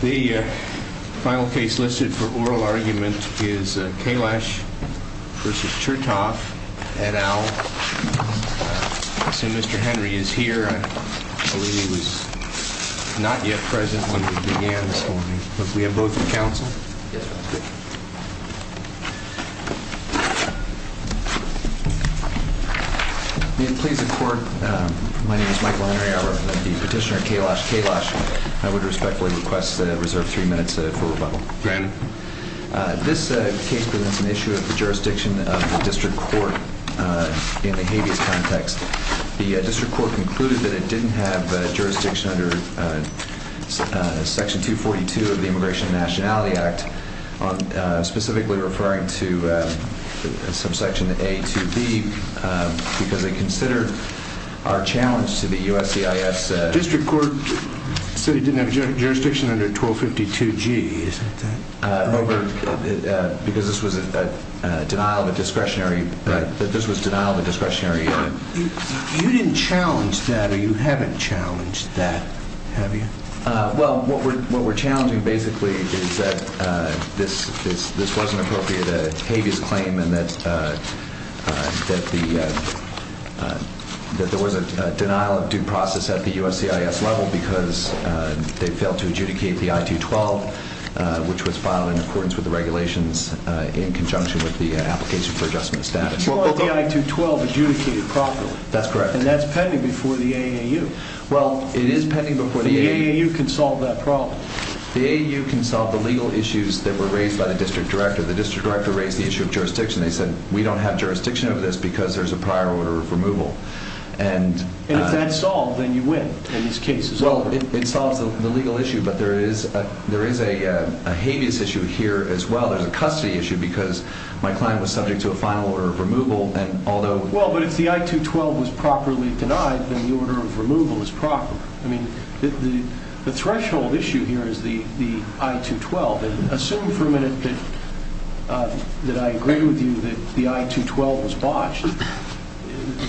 The final case listed for oral argument is Kailash v. Chettoff, et al. I assume Mr. Henry is here. I believe he was not yet present when we began this morning. Do we have a vote for counsel? Yes, Your Honor. May it please the Court, my name is Michael Henry. I represent the petitioner Kailash Kailash. I would respectfully request reserve three minutes for rebuttal. Granted. This case presents an issue of the jurisdiction of the district court in the habeas context. The district court concluded that it didn't have jurisdiction under Section 242 of the Immigration and Nationality Act, specifically referring to subsection A to B, because it considered our challenge to the USCIS District court said it didn't have jurisdiction under 1252G, isn't that correct? Yes, Your Honor, because this was a denial of a discretionary You didn't challenge that, or you haven't challenged that, have you? Well, what we're challenging basically is that this wasn't appropriate a habeas claim and that there was a denial of due process at the USCIS level because they failed to in conjunction with the application for adjustment of status. The I-212 adjudicated properly. That's correct. And that's pending before the AAU. Well, it is pending before the AAU. The AAU can solve that problem. The AAU can solve the legal issues that were raised by the district director. The district director raised the issue of jurisdiction. They said we don't have jurisdiction over this because there's a prior order of removal. And if that's solved, then you win in this case as well. Well, it solves the legal issue, but there is a habeas issue here as well. There's a custody issue because my client was subject to a final order of removal and although... Well, but if the I-212 was properly denied, then the order of removal is proper. I mean, the threshold issue here is the I-212. Assume for a minute that I agree with you that the I-212 was botched.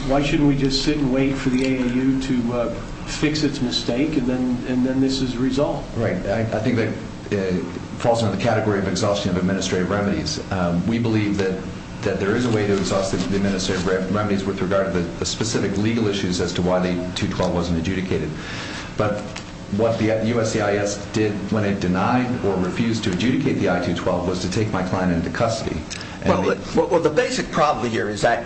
Why shouldn't we just sit and wait for the AAU to fix its mistake and then this is resolved? Right. I think that falls under the category of exhaustion of administrative remedies. We believe that there is a way to exhaust the administrative remedies with regard to the specific legal issues as to why the I-212 wasn't adjudicated. But what the USCIS did when it denied or refused to adjudicate the I-212 was to take my client into custody. Well, the basic problem here is that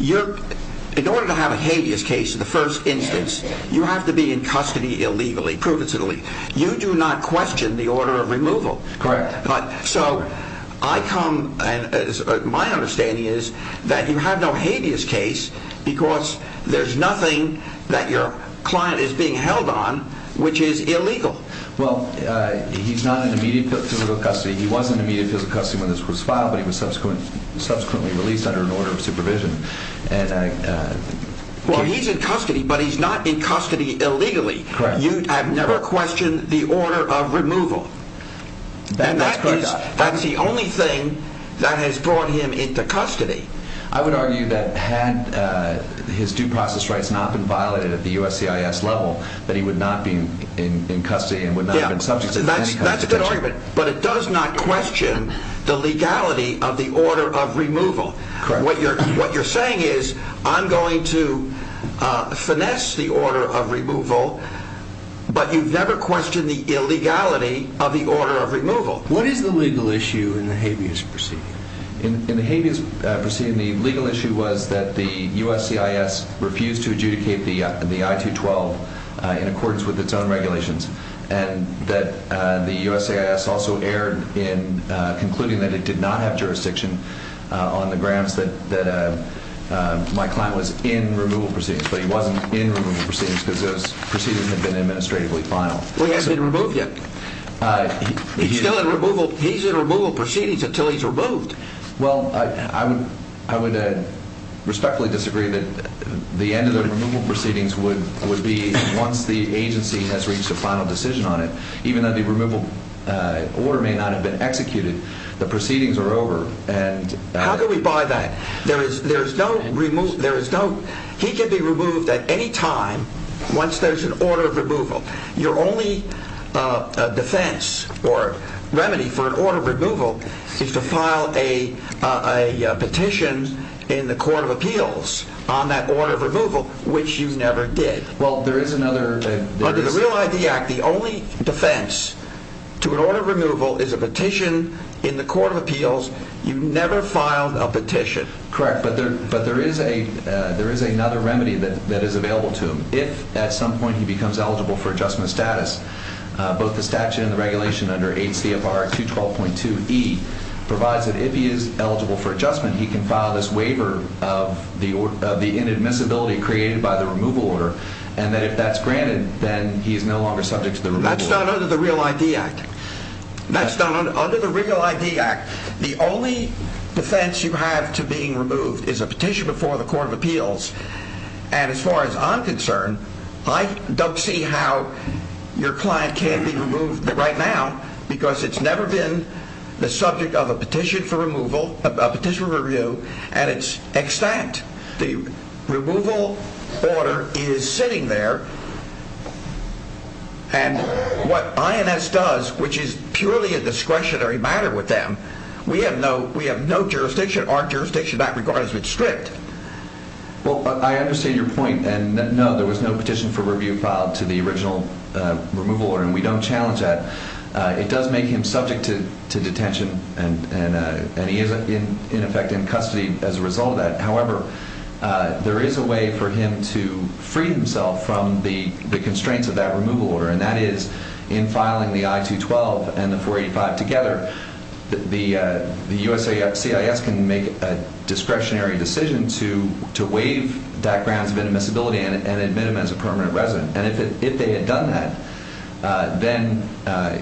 in order to have a habeas case in the first instance, you have to be in custody illegally, provisionally. You do not question the order of removal. Correct. So, my understanding is that you have no habeas case because there's nothing that your client is being held on which is illegal. Well, he's not in immediate physical custody. He was in immediate physical custody when this was filed, but he was subsequently released under an order of supervision. Well, he's in custody, but he's not in custody illegally. Correct. You have never questioned the order of removal. That's correct. And that's the only thing that has brought him into custody. I would argue that had his due process rights not been violated at the USCIS level, that That's a good argument, but it does not question the legality of the order of removal. Correct. What you're saying is I'm going to finesse the order of removal, but you've never questioned the illegality of the order of removal. What is the legal issue in the habeas proceeding? In the habeas proceeding, the legal issue was that the USCIS refused to adjudicate the I-212 in accordance with its own regulations and that the USCIS also erred in concluding that it did not have jurisdiction on the grounds that my client was in removal proceedings, but he wasn't in removal proceedings because those proceedings had been administratively filed. Well, he hasn't been removed yet. He's still in removal. He's in removal proceedings until he's removed. Well, I would respectfully disagree that the end of the removal proceedings would be once the agency has reached a final decision on it. Even though the removal order may not have been executed, the proceedings are over. How do we buy that? He can be removed at any time once there's an order of removal. Your only defense or remedy for an order of removal is to file a petition in the Court of Appeals on that order of removal, which you never did. Well, there is another... Under the Real ID Act, the only defense to an order of removal is a petition in the Court of Appeals. You never filed a petition. Correct, but there is another remedy that is available to him. If at some point he becomes eligible for adjustment of status, both the statute and the regulation under 8 CFR 212.2E provides that if he is eligible for adjustment, he can file this waiver of the inadmissibility created by the removal order, and that if that's granted, then he is no longer subject to the removal order. That's not under the Real ID Act. That's not under the Real ID Act. The only defense you have to being removed is a petition before the Court of Appeals. And as far as I'm concerned, I don't see how your client can't be removed right now because it's never been the subject of a petition for removal, a petition for review, and it's extant. The removal order is sitting there, and what INS does, which is purely a discretionary matter with them, we have no jurisdiction, our jurisdiction, that regard has been stripped. Well, I understand your point, and no, there was no petition for review filed to the original removal order, and we don't challenge that. It does make him subject to detention, and he is, in effect, in custody as a result of that. However, there is a way for him to free himself from the constraints of that removal order, and that is in filing the I-212 and the 485 together. The USCIS can make a discretionary decision to waive that grounds of inadmissibility and admit him as a permanent resident, and if they had done that, then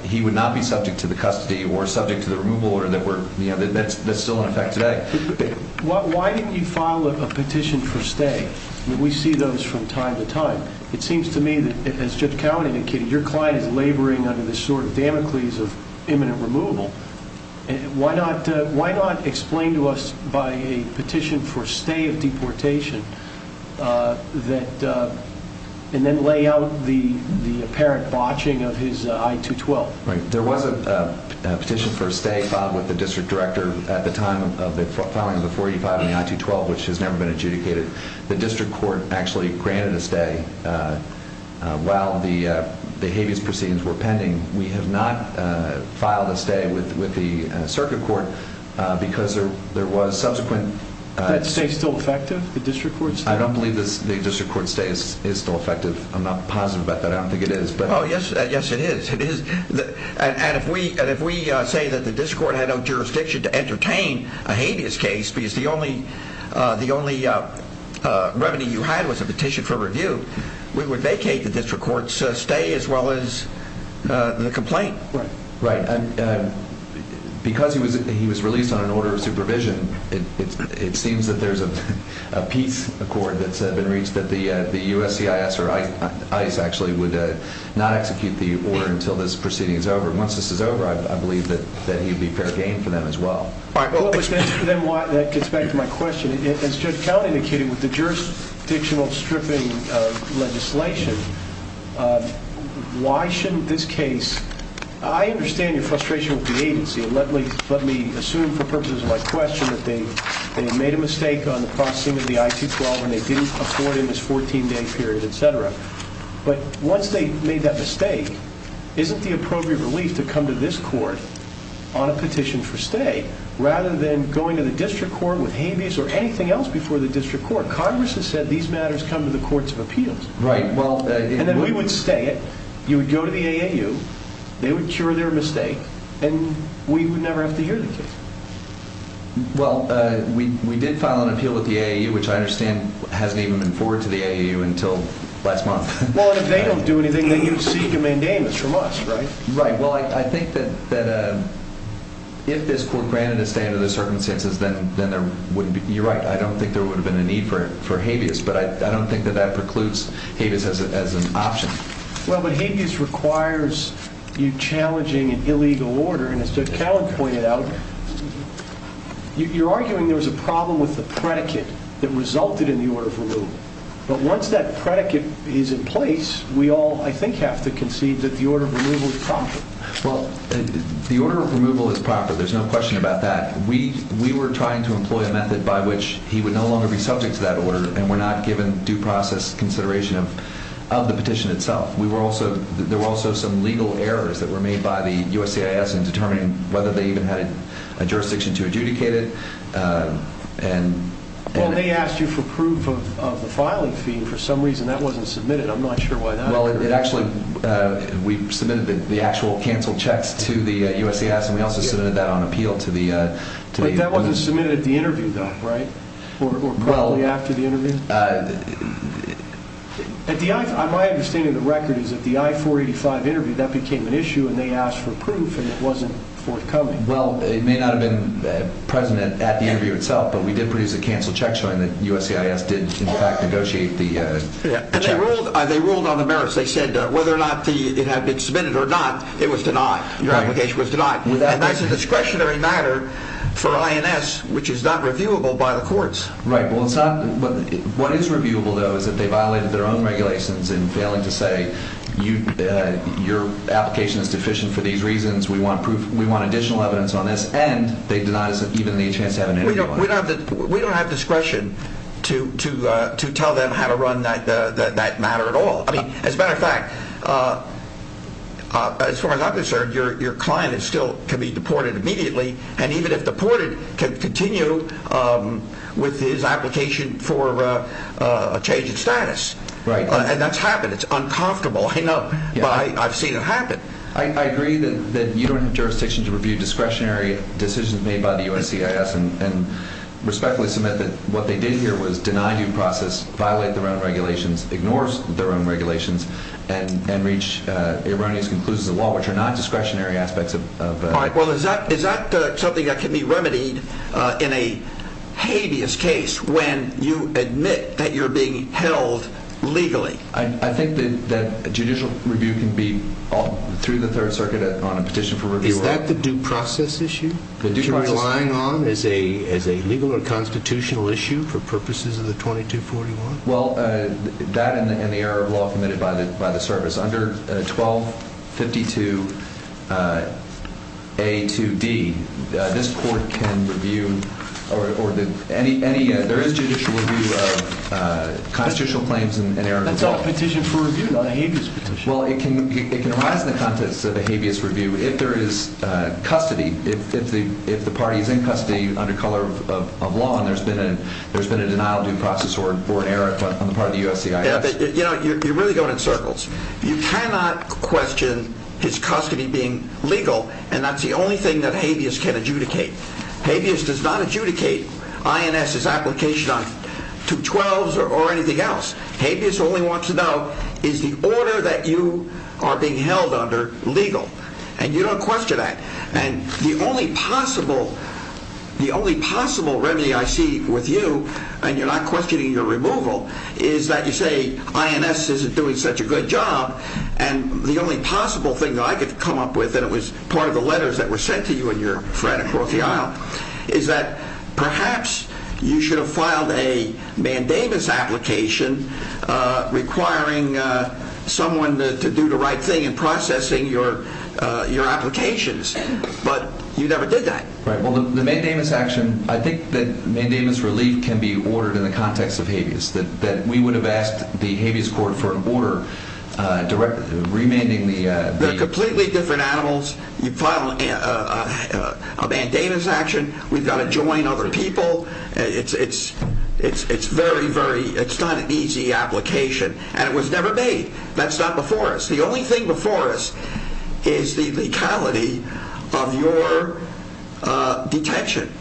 he would not be subject to the custody or subject to the removal order that's still in effect today. Why didn't you file a petition for stay? We see those from time to time. It seems to me that, as Judge Cowan indicated, your client is laboring under this sort of Damocles of imminent removal. Why not explain to us by a petition for stay of deportation and then lay out the apparent botching of his I-212? There was a petition for stay filed with the district director at the time of the filing of the 485 and the I-212, which has never been adjudicated. The district court actually granted a stay while the habeas proceedings were pending. We have not filed a stay with the circuit court because there was subsequent— Is that stay still effective, the district court stay? I don't believe the district court stay is still effective. I'm not positive about that. I don't think it is. Yes, it is. If we say that the district court had no jurisdiction to entertain a habeas case because the only revenue you had was a petition for review, we would vacate the district court's stay as well as the complaint. Right. Because he was released on an order of supervision, it seems that there's a peace accord that's been reached that the USCIS or ICE actually would not execute the order until this proceeding is over. Once this is over, I believe that you'd be fair game for them as well. All right. That gets back to my question. As Judge Cownie indicated, with the jurisdictional stripping legislation, why shouldn't this case—I understand your frustration with the agency. Let me assume for purposes of my question that they made a mistake on the processing of the I-212 when they didn't afford in this 14-day period, et cetera. But once they made that mistake, isn't the appropriate relief to come to this court on a petition for stay rather than going to the district court with habeas or anything else before the district court? Congress has said these matters come to the courts of appeals. Right. And then we would stay it. You would go to the AAU. And we would never have to hear the case. Well, we did file an appeal with the AAU, which I understand hasn't even been forwarded to the AAU until last month. Well, and if they don't do anything, then you'd seek a mandamus from us, right? Right. Well, I think that if this court granted a stay under those circumstances, then there wouldn't be—you're right. I don't think there would have been a need for habeas, but I don't think that that precludes habeas as an option. Well, but habeas requires you challenging an illegal order. And as Judge Callen pointed out, you're arguing there was a problem with the predicate that resulted in the order of removal. But once that predicate is in place, we all, I think, have to concede that the order of removal is proper. Well, the order of removal is proper. There's no question about that. We were trying to employ a method by which he would no longer be subject to that order, and we're not given due process consideration of the petition itself. There were also some legal errors that were made by the USCIS in determining whether they even had a jurisdiction to adjudicate it. And they asked you for proof of the filing fee, and for some reason that wasn't submitted. I'm not sure why that occurred. Well, it actually—we submitted the actual canceled checks to the USCIS, and we also submitted that on appeal to the— But that wasn't submitted at the interview, though, right? Or probably after the interview? My understanding of the record is that the I-485 interview, that became an issue, and they asked for proof, and it wasn't forthcoming. Well, it may not have been present at the interview itself, but we did produce a canceled check showing that USCIS did, in fact, negotiate the checks. And they ruled on the merits. They said whether or not it had been submitted or not, it was denied. Your application was denied. And that's a discretionary matter for INS, which is not reviewable by the courts. Right. Well, it's not—what is reviewable, though, is that they violated their own regulations in failing to say your application is deficient for these reasons, we want additional evidence on this, and they denied us even the chance to have an interview on it. We don't have discretion to tell them how to run that matter at all. I mean, as a matter of fact, as far as I'm concerned, your client still can be deported immediately, and even if deported, can continue with his application for a change in status. Right. And that's happened. It's uncomfortable. I know. But I've seen it happen. I agree that you don't have jurisdiction to review discretionary decisions made by the USCIS and respectfully submit that what they did here was deny due process, violate their own regulations, ignore their own regulations, and reach erroneous conclusions of the law, which are not discretionary aspects of— All right. Well, is that something that can be remedied in a habeas case when you admit that you're being held legally? I think that judicial review can be, through the Third Circuit, on a petition for review. Is that the due process issue that you're relying on as a legal or constitutional issue for purposes of the 2241? Well, that and the error of law committed by the service. Under 1252A2D, this court can review or any—there is judicial review of constitutional claims and error of law. That's on a petition for review, on a habeas petition. Well, it can arise in the context of a habeas review if there is custody, if the party is in custody under color of law and there's been a denial due process or an error on the part of the USCIS. Yeah, but, you know, you're really going in circles. You cannot question his custody being legal, and that's the only thing that habeas can adjudicate. Habeas does not adjudicate INS's application to 12s or anything else. Habeas only wants to know, is the order that you are being held under legal? And you don't question that. And the only possible—the only possible remedy I see with you, and you're not questioning your removal, is that you say INS isn't doing such a good job, and the only possible thing that I could come up with, and it was part of the letters that were sent to you and your friend across the aisle, is that perhaps you should have filed a mandamus application requiring someone to do the right thing in processing your applications. But you never did that. Right. Well, the mandamus action, I think the mandamus relief can be ordered in the context of habeas, that we would have asked the habeas court for an order direct—remanding the— They're completely different animals. You file a mandamus action, we've got to join other people. It's very, very—it's not an easy application, and it was never made. That's not before us. The only thing before us is the lethality of your detention.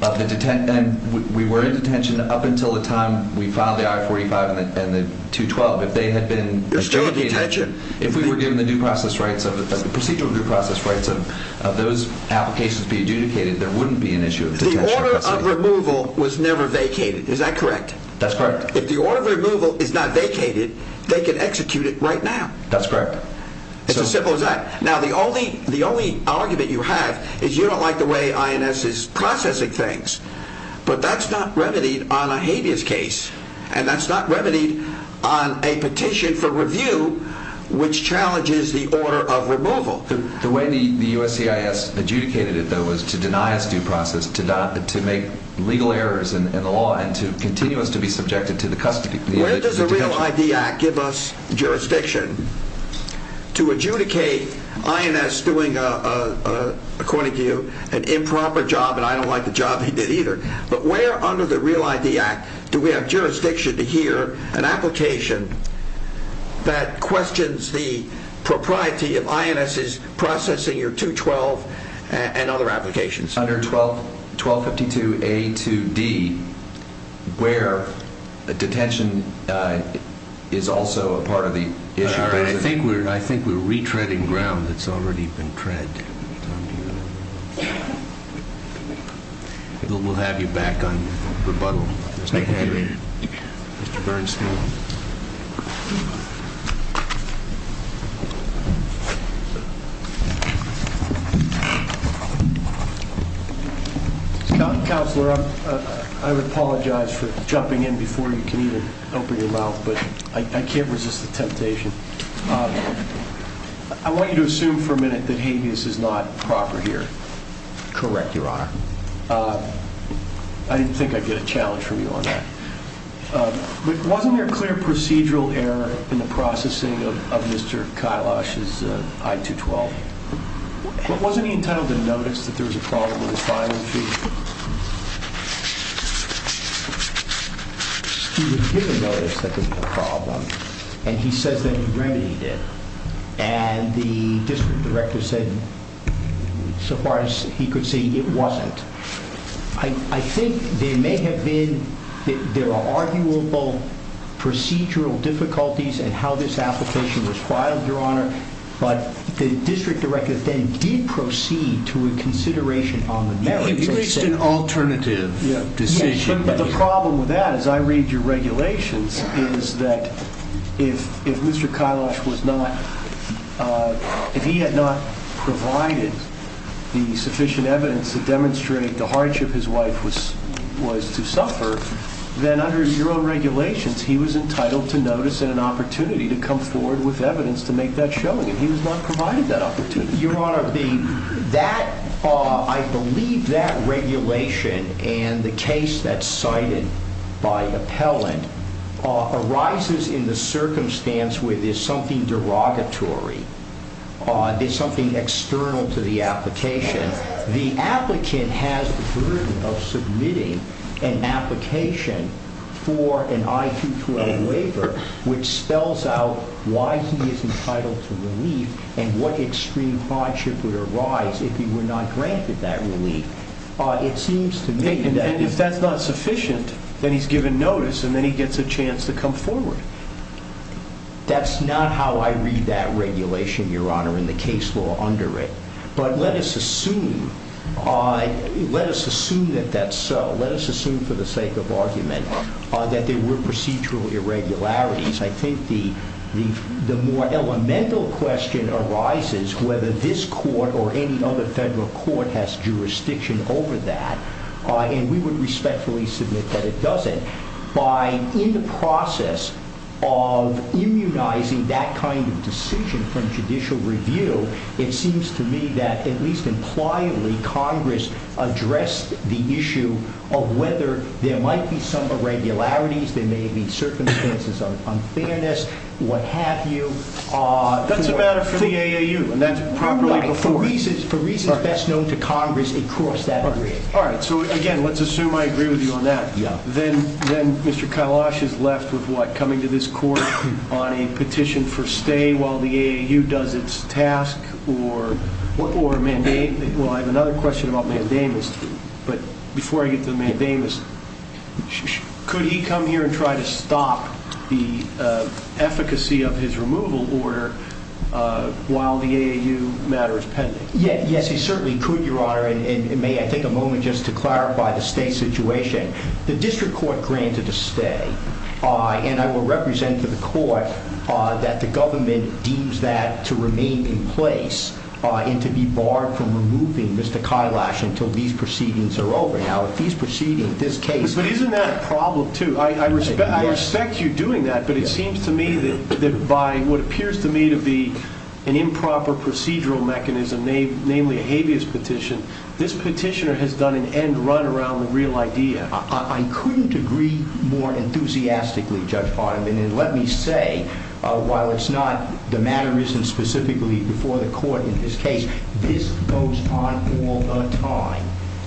And we were in detention up until the time we filed the I-45 and the 212. If they had been— You're still in detention. If we were given the due process rights, the procedural due process rights of those applications to be adjudicated, there wouldn't be an issue of detention. The order of removal was never vacated. Is that correct? That's correct. If the order of removal is not vacated, they can execute it right now. That's correct. It's as simple as that. Now, the only argument you have is you don't like the way INS is processing things, but that's not remedied on a habeas case, and that's not remedied on a petition for review which challenges the order of removal. The way the USCIS adjudicated it, though, was to deny us due process, to make legal errors in the law, and to continue us to be subjected to the— Where does the REAL ID Act give us jurisdiction to adjudicate INS doing, according to you, an improper job, and I don't like the job he did either, but where under the REAL ID Act do we have jurisdiction to hear an application that questions the propriety of INS's processing your 212 and other applications? Under 1252A2D, where a detention is also a part of the issue. All right. I think we're retreading ground that's already been tread. We'll have you back on rebuttal. Thank you. Mr. Bernstein. Counselor, I would apologize for jumping in before you can even open your mouth, but I can't resist the temptation. I want you to assume for a minute that habeas is not proper here. Correct, Your Honor. I didn't think I'd get a challenge from you on that. But wasn't there a clear procedural error in the processing of Mr. Kailash's I-212? Wasn't he entitled to notice that there was a problem with his filing sheet? He was given notice that there was a problem, and he says that he remedied it, and the district director said, so far as he could see, it wasn't. I think there may have been arguable procedural difficulties in how this application was filed, Your Honor, but the district director then did proceed to a consideration on the merits. He reached an alternative decision. Yes, but the problem with that, as I read your regulations, is that if Mr. Kailash was not, if he had not provided the sufficient evidence to demonstrate the hardship his wife was to suffer, then under your own regulations, he was entitled to notice and an opportunity to come forward with evidence to make that showing, and he was not provided that opportunity. Your Honor, I believe that regulation and the case that's cited by appellant arises in the circumstance where there's something derogatory, there's something external to the application. The applicant has the burden of submitting an application for an I-212 waiver, which spells out why he is entitled to relief and what extreme hardship would arise if he were not granted that relief. It seems to me that if that's not sufficient, then he's given notice and then he gets a chance to come forward. That's not how I read that regulation, Your Honor, and the case law under it, but let us assume that that's so. I think the more elemental question arises whether this court or any other federal court has jurisdiction over that, and we would respectfully submit that it doesn't. In the process of immunizing that kind of decision from judicial review, it seems to me that at least impliedly Congress addressed the issue of whether there might be some irregularities, there may be circumstances of unfairness, what have you. That's a matter for the AAU, and that's properly before it. For reasons best known to Congress, it crossed that bridge. Again, let's assume I agree with you on that. Then Mr. Kailash is left with what? Coming to this court on a petition for stay while the AAU does its task? I have another question about mandamus, but before I get to the mandamus, could he come here and try to stop the efficacy of his removal order while the AAU matter is pending? Yes, he certainly could, Your Honor. May I take a moment just to clarify the stay situation? The district court granted a stay, and I will represent to the court that the government deems that to remain in place and to be barred from removing Mr. Kailash until these proceedings are over. But isn't that a problem, too? I respect you doing that, but it seems to me that by what appears to me to be an improper procedural mechanism, namely a habeas petition, this petitioner has done an end run around the real idea. I couldn't agree more enthusiastically, Judge Bartleman, and let me say, while it's not the matter isn't specifically before the court in this case, this goes on all the time.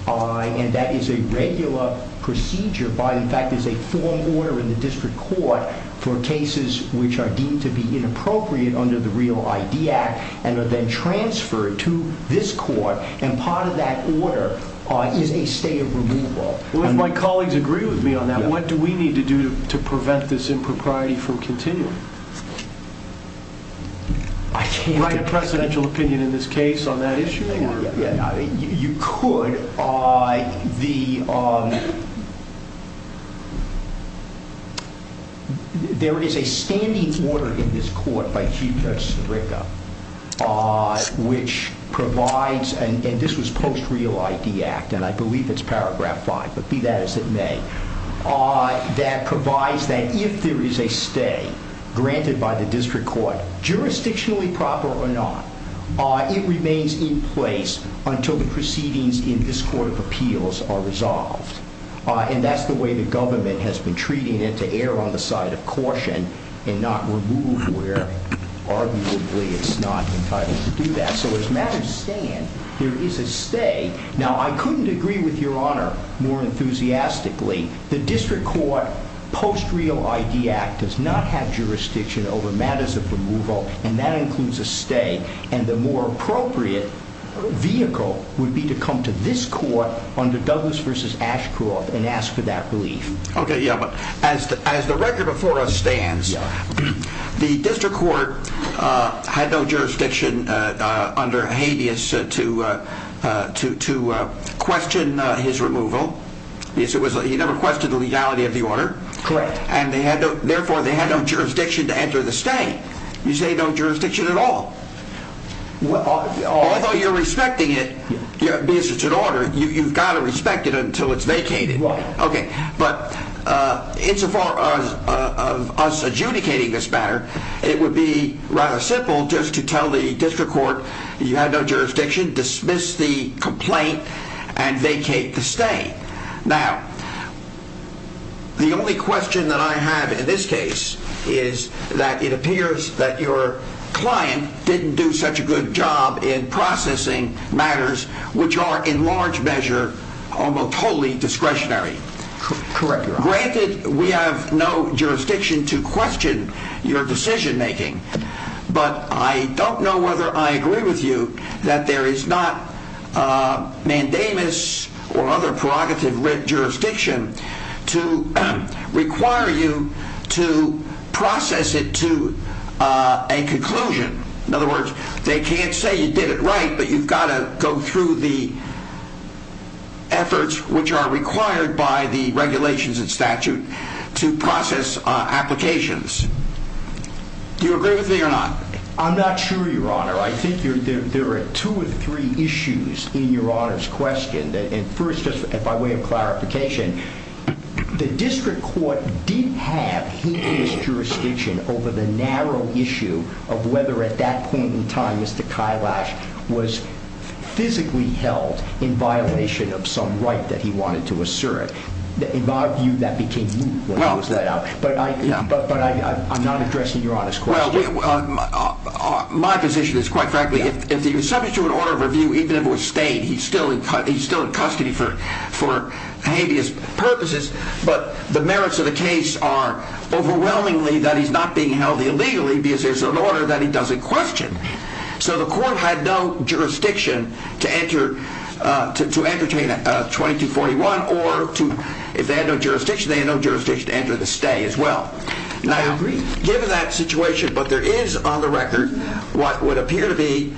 And that is a regular procedure by, in fact, there's a formal order in the district court for cases which are deemed to be inappropriate under the Real ID Act and are then transferred to this court. And part of that order is a stay of removal. Well, if my colleagues agree with me on that, what do we need to do to prevent this impropriety from continuing? I can't... Write a precedential opinion in this case on that issue? You could. There is a standing order in this court by Chief Judge Sirica which provides, and this was post Real ID Act, and I believe it's paragraph 5, but be that as it may, that provides that if there is a stay granted by the district court, jurisdictionally proper or not, it remains in place until the proceedings in this court of appeals are resolved. And that's the way the government has been treating it, to err on the side of caution and not remove where arguably it's not entitled to do that. So as a matter of staying, there is a stay. Now, I couldn't agree with Your Honor more enthusiastically. The district court post Real ID Act does not have jurisdiction over matters of removal, and that includes a stay. And the more appropriate vehicle would be to come to this court under Douglas v. Ashcroft and ask for that relief. Okay, yeah, but as the record before us stands, the district court had no jurisdiction under habeas to question his removal. He never questioned the legality of the order. Correct. And therefore, they had no jurisdiction to enter the stay. You say no jurisdiction at all. Although you're respecting it, because it's an order, you've got to respect it until it's vacated. Right. Okay, but insofar as us adjudicating this matter, it would be rather simple just to tell the district court you had no jurisdiction, dismiss the complaint, and vacate the stay. Now, the only question that I have in this case is that it appears that your client didn't do such a good job in processing matters which are in large measure almost totally discretionary. Correct, Your Honor. Granted, we have no jurisdiction to question your decision making, but I don't know whether I agree with you that there is not mandamus or other prerogative jurisdiction to require you to process it to a conclusion. In other words, they can't say you did it right, but you've got to go through the efforts which are required by the regulations and statute to process applications. I'm not sure, Your Honor. I think there are two or three issues in Your Honor's question. And first, just by way of clarification, the district court did have humanist jurisdiction over the narrow issue of whether at that point in time Mr. Kailash was physically held in violation of some right that he wanted to assert. In my view, that became moot when it was let out. But I'm not addressing Your Honor's question. Well, my position is, quite frankly, if he was subject to an order of review, even if it was stayed, he's still in custody for habeas purposes. But the merits of the case are overwhelmingly that he's not being held illegally because there's an order that he doesn't question. So the court had no jurisdiction to entertain a 2241 or if they had no jurisdiction, they had no jurisdiction to enter the stay as well. I agree. Given that situation, but there is on the record what would appear to be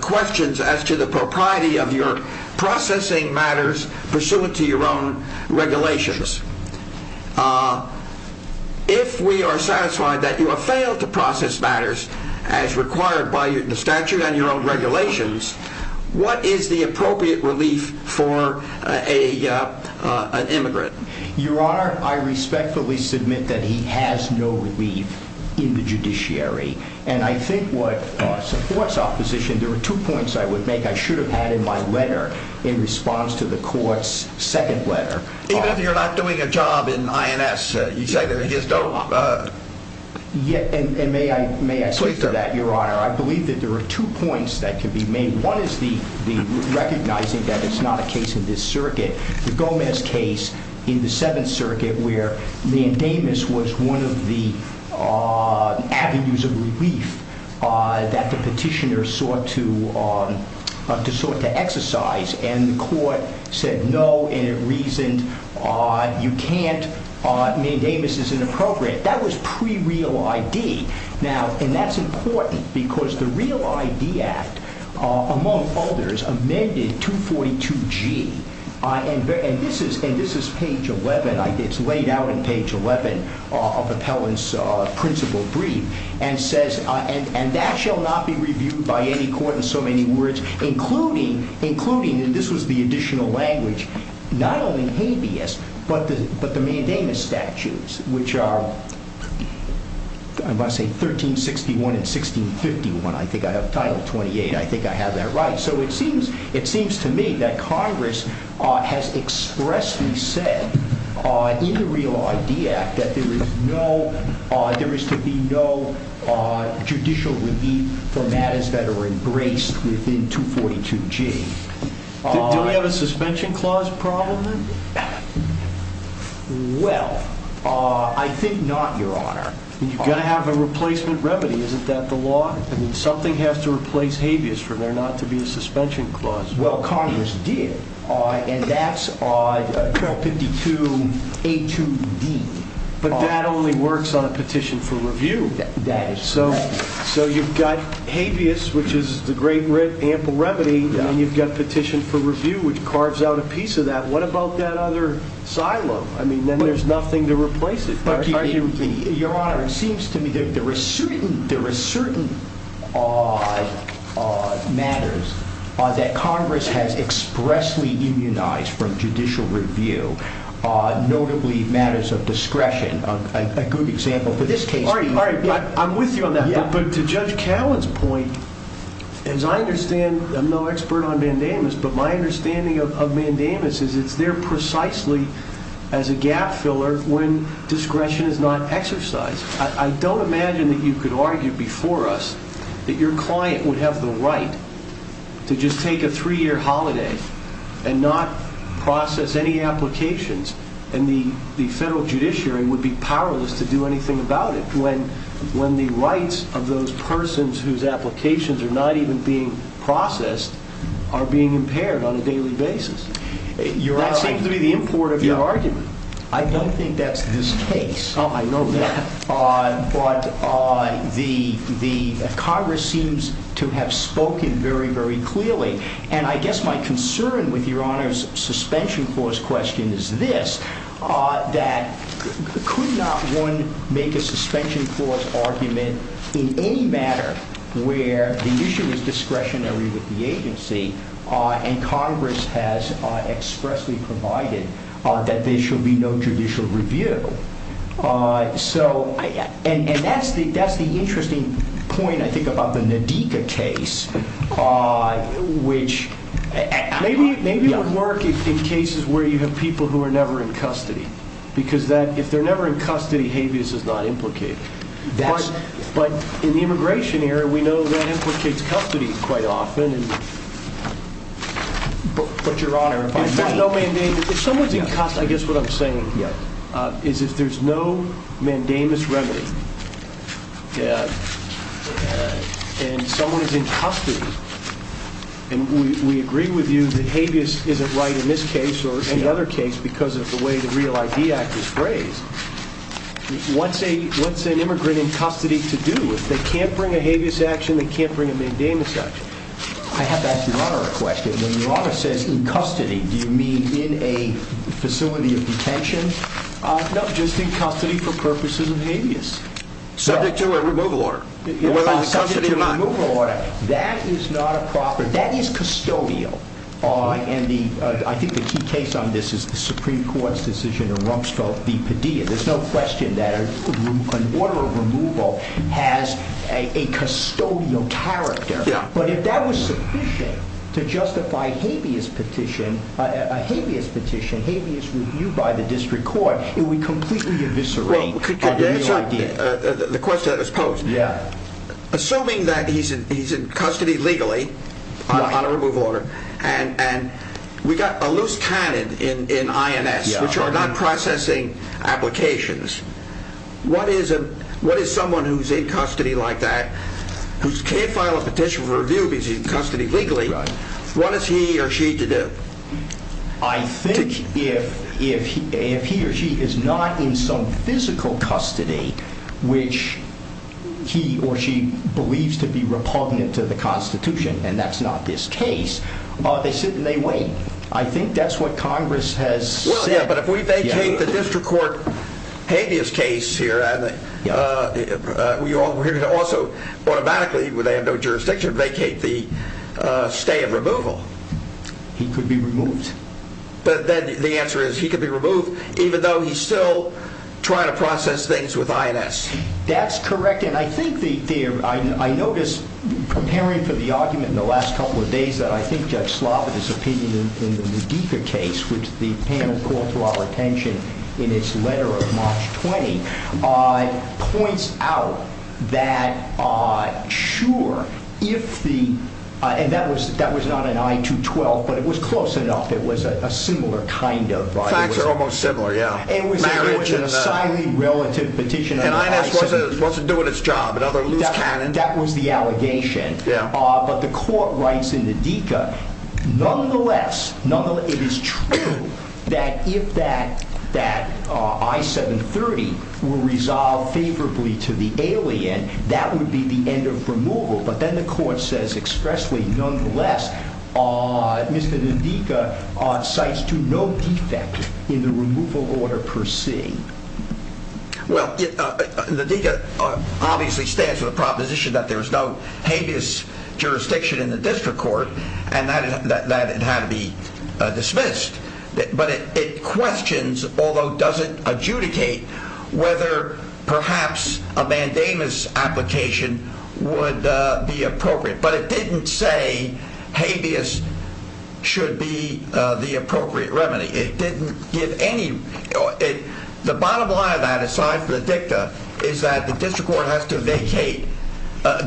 questions as to the propriety of your processing matters pursuant to your own regulations. If we are satisfied that you have failed to process matters as required by the statute and your own regulations, what is the appropriate relief for an immigrant? Your Honor, I respectfully submit that he has no relief in the judiciary. And I think what supports opposition, there are two points I would make I should have had in my letter in response to the court's second letter. Even if you're not doing a job in INS, you just don't... And may I speak to that, Your Honor? Please do. I believe that there are two points that can be made. One is the recognizing that it's not a case in this circuit. The Gomez case in the Seventh Circuit where mandamus was one of the avenues of relief that the petitioner sought to exercise and the court said no and it reasoned you can't. Mandamus is inappropriate. That was pre-real ID. And that's important because the Real ID Act, among others, amended 242G. And this is page 11. It's laid out in page 11 of Appellant's principal brief and says, and that shall not be reviewed by any court in so many words, including, and this was the additional language, not only habeas, but the mandamus statutes, which are, I'm going to say 1361 and 1651, I think I have title 28, I think I have that right. So it seems to me that Congress has expressly said in the Real ID Act that there is to be no judicial relief for matters that are embraced within 242G. Do we have a suspension clause problem then? Well, I think not, Your Honor. You've got to have a replacement remedy. Isn't that the law? I mean, something has to replace habeas for there not to be a suspension clause. Well, Congress did, and that's 252A2D. But that only works on a petition for review. That is correct. So you've got habeas, which is the great ample remedy, and you've got petition for review, which carves out a piece of that. What about that other silo? I mean, then there's nothing to replace it. Your Honor, it seems to me that there are certain matters that Congress has expressly immunized from judicial review, notably matters of discretion, a good example for this case. I'm with you on that, but to Judge Cowan's point, as I understand, I'm no expert on mandamus, but my understanding of mandamus is it's there precisely as a gap filler when discretion is not exercised. I don't imagine that you could argue before us that your client would have the right to just take a three-year holiday and not process any applications, and the federal judiciary would be powerless to do anything about it when the rights of those persons whose applications are not even being processed are being impaired on a daily basis. That seems to be the import of your argument. I don't think that's this case. Oh, I know that. But Congress seems to have spoken very, very clearly, and I guess my concern with Your Honor's suspension clause question is this, that could not one make a suspension clause argument in any matter where the issue is discretionary with the agency and Congress has expressly provided that there should be no judicial review. And that's the interesting point, I think, about the Nadika case, which... Maybe it would work in cases where you have people who are never in custody, because if they're never in custody, habeas is not implicated. But in the immigration area, we know that implicates custody quite often, but Your Honor... If someone's in custody, I guess what I'm saying is if there's no mandamus remedy and someone is in custody, and we agree with you that habeas isn't right in this case or any other case because of the way the REAL ID Act is phrased, what's an immigrant in custody to do? If they can't bring a habeas action, they can't bring a mandamus action. I have to ask Your Honor a question. When Your Honor says in custody, do you mean in a facility of detention? No, just in custody for purposes of habeas. Subject to a removal order. Subject to a removal order. That is not a proper... That is custodial. I think the key case on this is the Supreme Court's decision in Rumsfeld v. Padilla. There's no question that an order of removal has a custodial character. But if that was sufficient to justify a habeas petition, a habeas review by the district court, it would completely eviscerate on the REAL ID Act. Could you answer the question that was posed? Assuming that he's in custody legally on a removal order, and we got a loose cannon in INS, which are not processing applications, what is someone who's in custody like that, who can't file a petition for review because he's in custody legally, what is he or she to do? I think if he or she is not in some physical custody which he or she believes to be repugnant to the Constitution, and that's not this case, they sit and they wait. I think that's what Congress has said. But if we vacate the district court habeas case here, we're going to also automatically, where they have no jurisdiction, vacate the stay of removal. He could be removed. But then the answer is he could be removed even though he's still trying to process things with INS. That's correct. And I think I noticed, comparing to the argument in the last couple of days, that I think Judge Slobod is opinion in the Medica case, which the panel called to our attention in its letter of March 20, points out that, sure, if the... And that was not an I-212, but it was close enough. It was a similar kind of... Facts are almost similar, yeah. It was a silently relative petition. And INS wasn't doing its job. That was the allegation. But the court writes in the Medica, nonetheless, it is true that if that I-730 were resolved favorably to the alien, that would be the end of removal. But then the court says expressly, nonetheless, Mr. Medica cites to no defect in the removal order per se. Well, Medica obviously stands for the proposition that there's no habeas jurisdiction in the district court. And that it had to be dismissed. But it questions, although doesn't adjudicate, whether perhaps a mandamus application would be appropriate. But it didn't say habeas should be the appropriate remedy. It didn't give any... The bottom line of that, aside from the dicta, is that the district court has to vacate,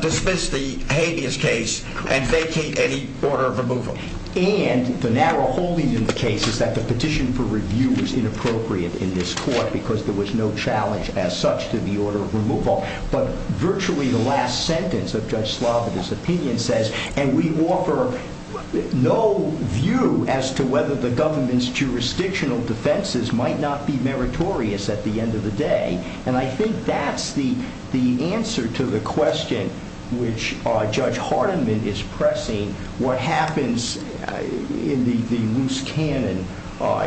dismiss the habeas case, and vacate any order of removal. And the narrow holding in the case is that the petition for review was inappropriate in this court because there was no challenge as such to the order of removal. But virtually the last sentence of Judge Slavitt's opinion says, and we offer no view as to whether the government's jurisdictional defenses might not be meritorious at the end of the day. And I think that's the answer to the question which Judge Hardiman is pressing, what happens in the loose cannon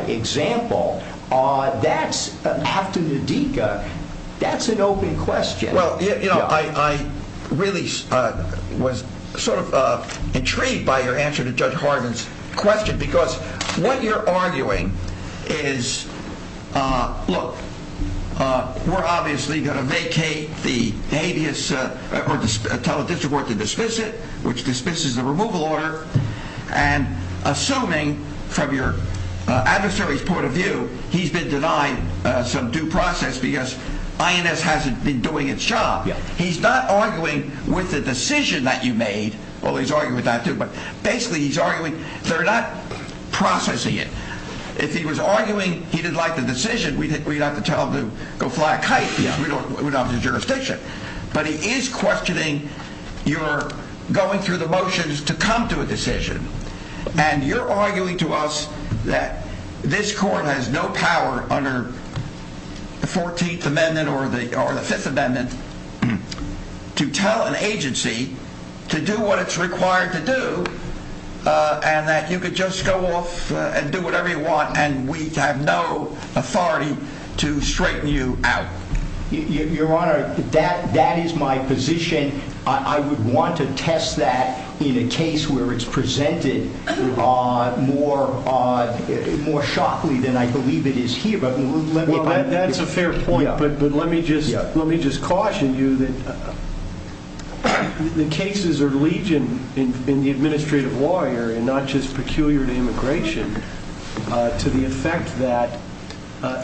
example. That's, after the dicta, that's an open question. Well, you know, I really was sort of intrigued by your answer to Judge Hardiman's question because what you're arguing is, look, we're obviously going to vacate the habeas or tell the district court to dismiss it, which dismisses the removal order, and assuming from your adversary's point of view he's been denied some due process because INS hasn't been doing its job. He's not arguing with the decision that you made. Well, he's arguing with that too, but basically he's arguing they're not processing it. If he was arguing he didn't like the decision, we'd have to tell him to go fly a kite because we don't have the jurisdiction. But he is questioning your going through the motions to come to a decision. And you're arguing to us that this court has no power under the 14th Amendment or the 5th Amendment to tell an agency to do what it's required to do and that you could just go off and do whatever you want and we have no authority to straighten you out. Your Honor, that is my position. I would want to test that in a case where it's presented more shockingly than I believe it is here. Well, that's a fair point, but let me just caution you that the cases are legion in the administrative law area, and not just peculiar to immigration, to the effect that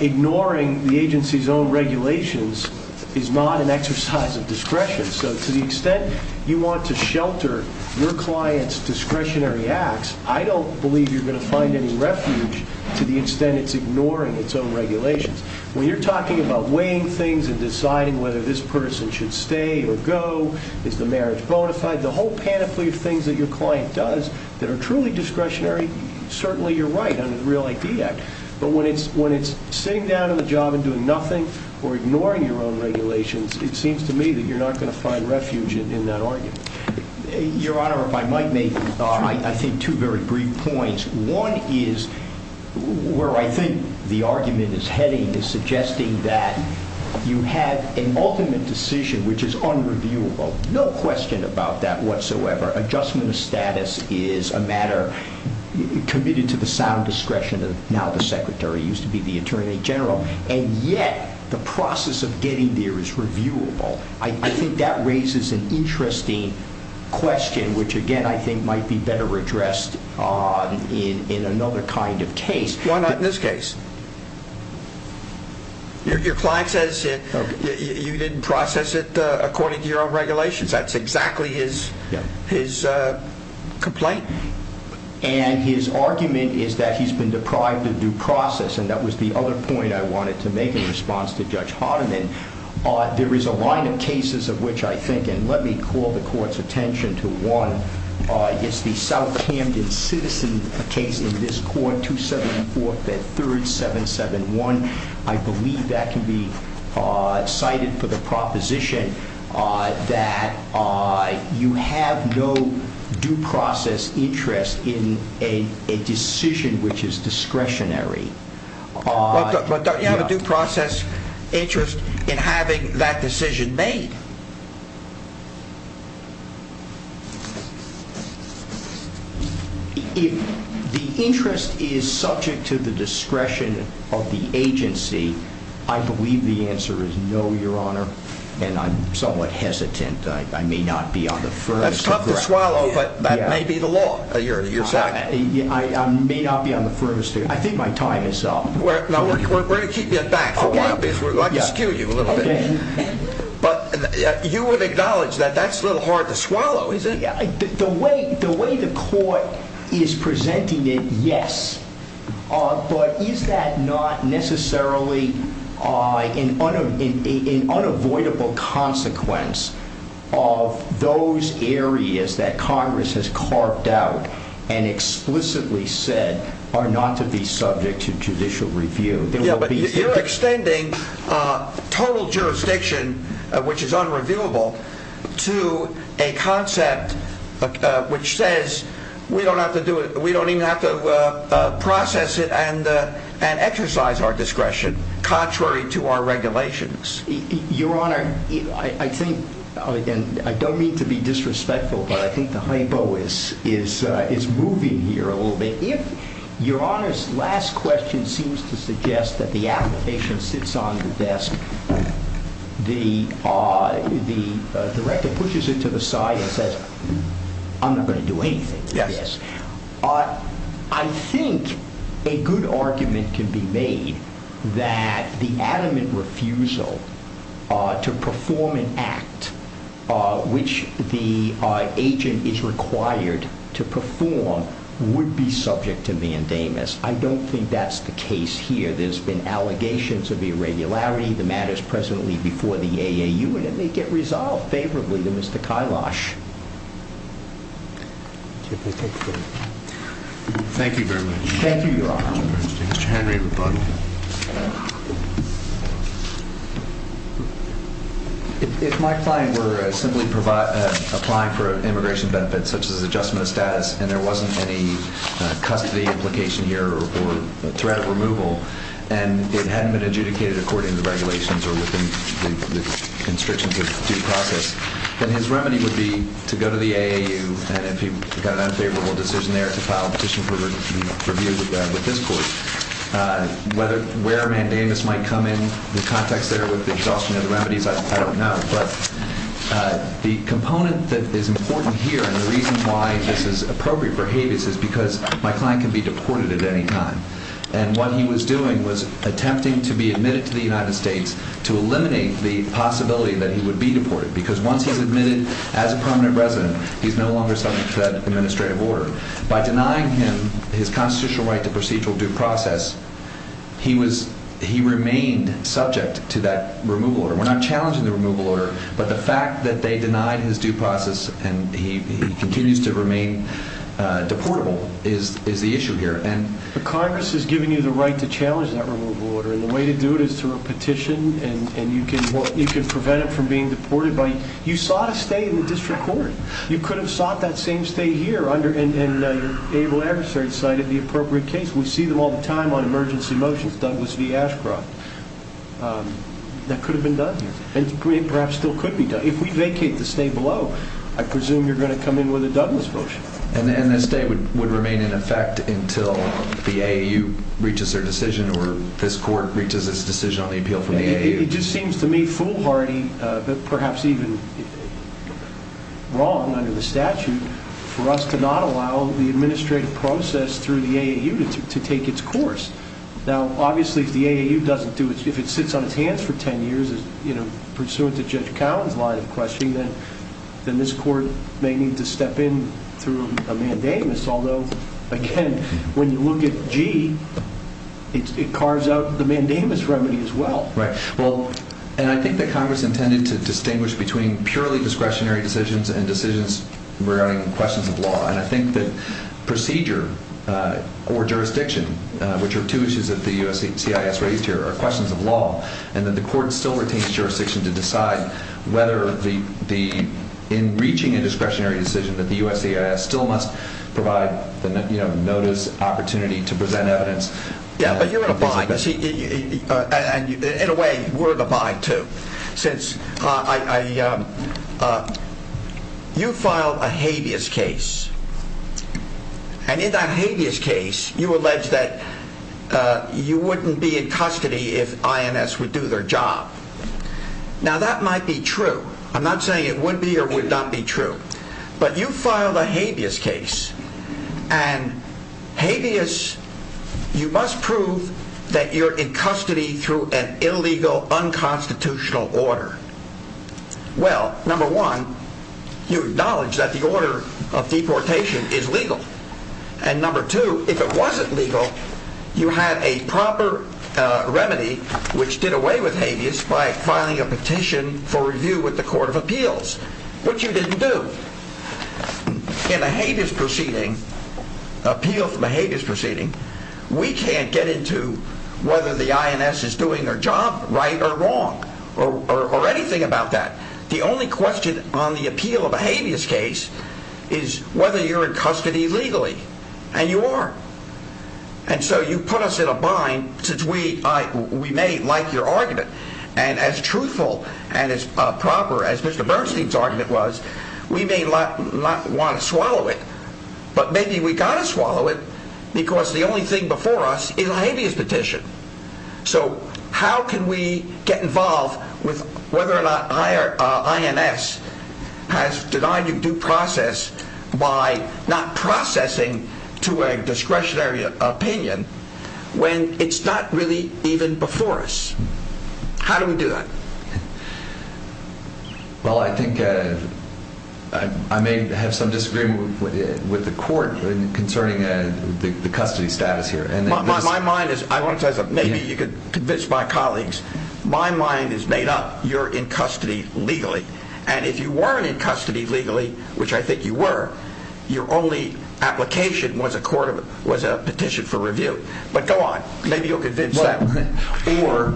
ignoring the agency's own regulations is not an exercise of discretion. So to the extent you want to shelter your client's discretionary acts, I don't believe you're going to find any refuge to the extent it's ignoring its own regulations. When you're talking about weighing things and deciding whether this person should stay or go, is the marriage bona fide, the whole panoply of things that your client does that are truly discretionary, certainly you're right under the Real IP Act. But when it's sitting down at a job and doing nothing or ignoring your own regulations, it seems to me that you're not going to find refuge in that argument. Your Honor, if I might make, I think, two very brief points. One is where I think the argument is heading is suggesting that you have an ultimate decision which is unreviewable. No question about that whatsoever. Adjustment of status is a matter committed to the sound discretion of now the Secretary, used to be the Attorney General, and yet the process of getting there is reviewable. I think that raises an interesting question which, again, I think might be better addressed in another kind of case. Why not in this case? Your client says you didn't process it according to your own regulations. That's exactly his complaint? And his argument is that he's been deprived of due process, and that was the other point I wanted to make in response to Judge Hardiman. There is a line of cases of which I think, and let me call the Court's attention to one, it's the South Camden citizen case in this Court, 274th and 3rd, 771. I believe that can be cited for the proposition that you have no due process interest in a decision which is discretionary. But don't you have a due process interest in having that decision made? If the interest is subject to the discretion of the agency, I believe the answer is no, Your Honor, and I'm somewhat hesitant. I may not be on the furthest of ground. That's tough to swallow, but that may be the law. I may not be on the furthest. I think my time is up. We're going to keep you at back for a while, because I could skew you a little bit. But you would acknowledge that that's a little hard to swallow, isn't it? The way the Court is presenting it, yes. But is that not necessarily an unavoidable consequence of those areas that Congress has carved out and explicitly said are not to be subject to judicial review? You're extending total jurisdiction, which is unreviewable, to a concept which says we don't even have to process it and exercise our discretion contrary to our regulations. Your Honor, I don't mean to be disrespectful, but I think the hypo is moving here a little bit. If Your Honor's last question seems to suggest that the application sits on the desk, the director pushes it to the side and says, I'm not going to do anything with this. I think a good argument can be made that the adamant refusal to perform an act which the agent is required to perform would be subject to mandamus. I don't think that's the case here. There's been allegations of irregularity, the matters presently before the AAU, and they may get resolved favorably to Mr. Kylosh. Thank you very much. Thank you, Your Honor. Mr. Henry McButtle. If my client were simply applying for immigration benefits such as adjustment of status and there wasn't any custody implication here or threat of removal and it hadn't been adjudicated according to the regulations or within the constrictions of due process, then his remedy would be to go to the AAU and if he got an unfavorable decision there to file a petition for review with this court. Where mandamus might come in, the context there with the exhaustion of the remedies, I don't know. But the component that is important here and the reason why this is appropriate for habeas is because my client can be deported at any time. And what he was doing was attempting to be admitted to the United States to eliminate the possibility that he would be deported because once he's admitted as a prominent resident, he's no longer subject to that administrative order. By denying him his constitutional right to procedural due process, he remained subject to that removal order. We're not challenging the removal order, but the fact that they denied his due process and he continues to remain deportable is the issue here. Congress is giving you the right to challenge that removal order and the way to do it is through a petition and you can prevent him from being deported. You sought a stay in the district court. You could have sought that same stay here and your able adversary cited the appropriate case. We see them all the time on emergency motions, Douglas v. Ashcroft. That could have been done here and perhaps still could be done. If we vacate the stay below, I presume you're going to come in with a Douglas motion. And this stay would remain in effect until the AAU reaches their decision or this court reaches its decision on the appeal from the AAU. It just seems to me foolhardy, perhaps even wrong under the statute, for us to not allow the administrative process through the AAU to take its course. Now, obviously, if the AAU doesn't do it, if it sits on its hands for 10 years, pursuant to Judge Cowan's line of questioning, then this court may need to step in through a mandamus. Although, again, when you look at G, it carves out the mandamus remedy as well. Right. And I think that Congress intended to distinguish between purely discretionary decisions and decisions regarding questions of law. And I think that procedure or jurisdiction, which are two issues that the USCIS raised here, are questions of law and that the court still retains jurisdiction to decide whether in reaching a discretionary decision that the USCIS still must provide notice, opportunity to present evidence. Yeah, but you're in a bind. And in a way, we're in a bind too. Since you filed a habeas case. And in that habeas case, you alleged that you wouldn't be in custody if INS would do their job. Now, that might be true. I'm not saying it would be or would not be true. But you filed a habeas case. And habeas, you must prove that you're in custody through an illegal, unconstitutional order. Well, number one, you acknowledge that the order of deportation is legal. And number two, if it wasn't legal, you had a proper remedy, which did away with habeas by filing a petition for review with the Court of Appeals, which you didn't do. In a habeas proceeding, appeal from a habeas proceeding, we can't get into whether the INS is doing their job right or wrong or anything about that. The only question on the appeal of a habeas case is whether you're in custody legally. And you are. And so you put us in a bind, since we may like your argument. And as truthful and as proper as Mr. Bernstein's argument was, we may not want to swallow it. But maybe we've got to swallow it because the only thing before us is a habeas petition. So how can we get involved with whether or not INS has denied you due process by not processing to a discretionary opinion when it's not really even before us? How do we do that? Well, I think I may have some disagreement with the Court concerning the custody status here. My mind is... I want to say something. Maybe you could convince my colleagues. My mind is made up. You're in custody legally. And if you weren't in custody legally, which I think you were, your only application was a petition for review. But go on. Maybe you'll convince them. Or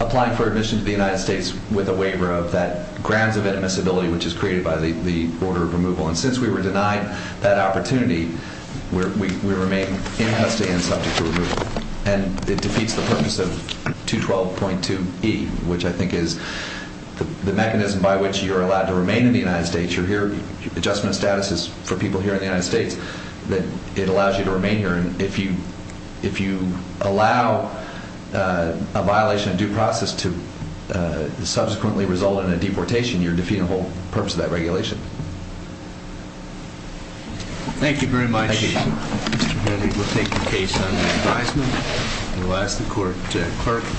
applying for admission to the United States with a waiver of that grounds of admissibility which is created by the order of removal. And since we were denied that opportunity, we remain in custody and subject to removal. And it defeats the purpose of 212.2e, which I think is the mechanism by which you're allowed to remain in the United States. You're here. Adjustment of status is for people here in the United States. It allows you to remain here. And if you allow a violation of due process to subsequently result in a deportation, you're defeating the whole purpose of that regulation. Thank you very much. Thank you. Mr. Kennedy will take the case under advisement. We'll ask the clerk to...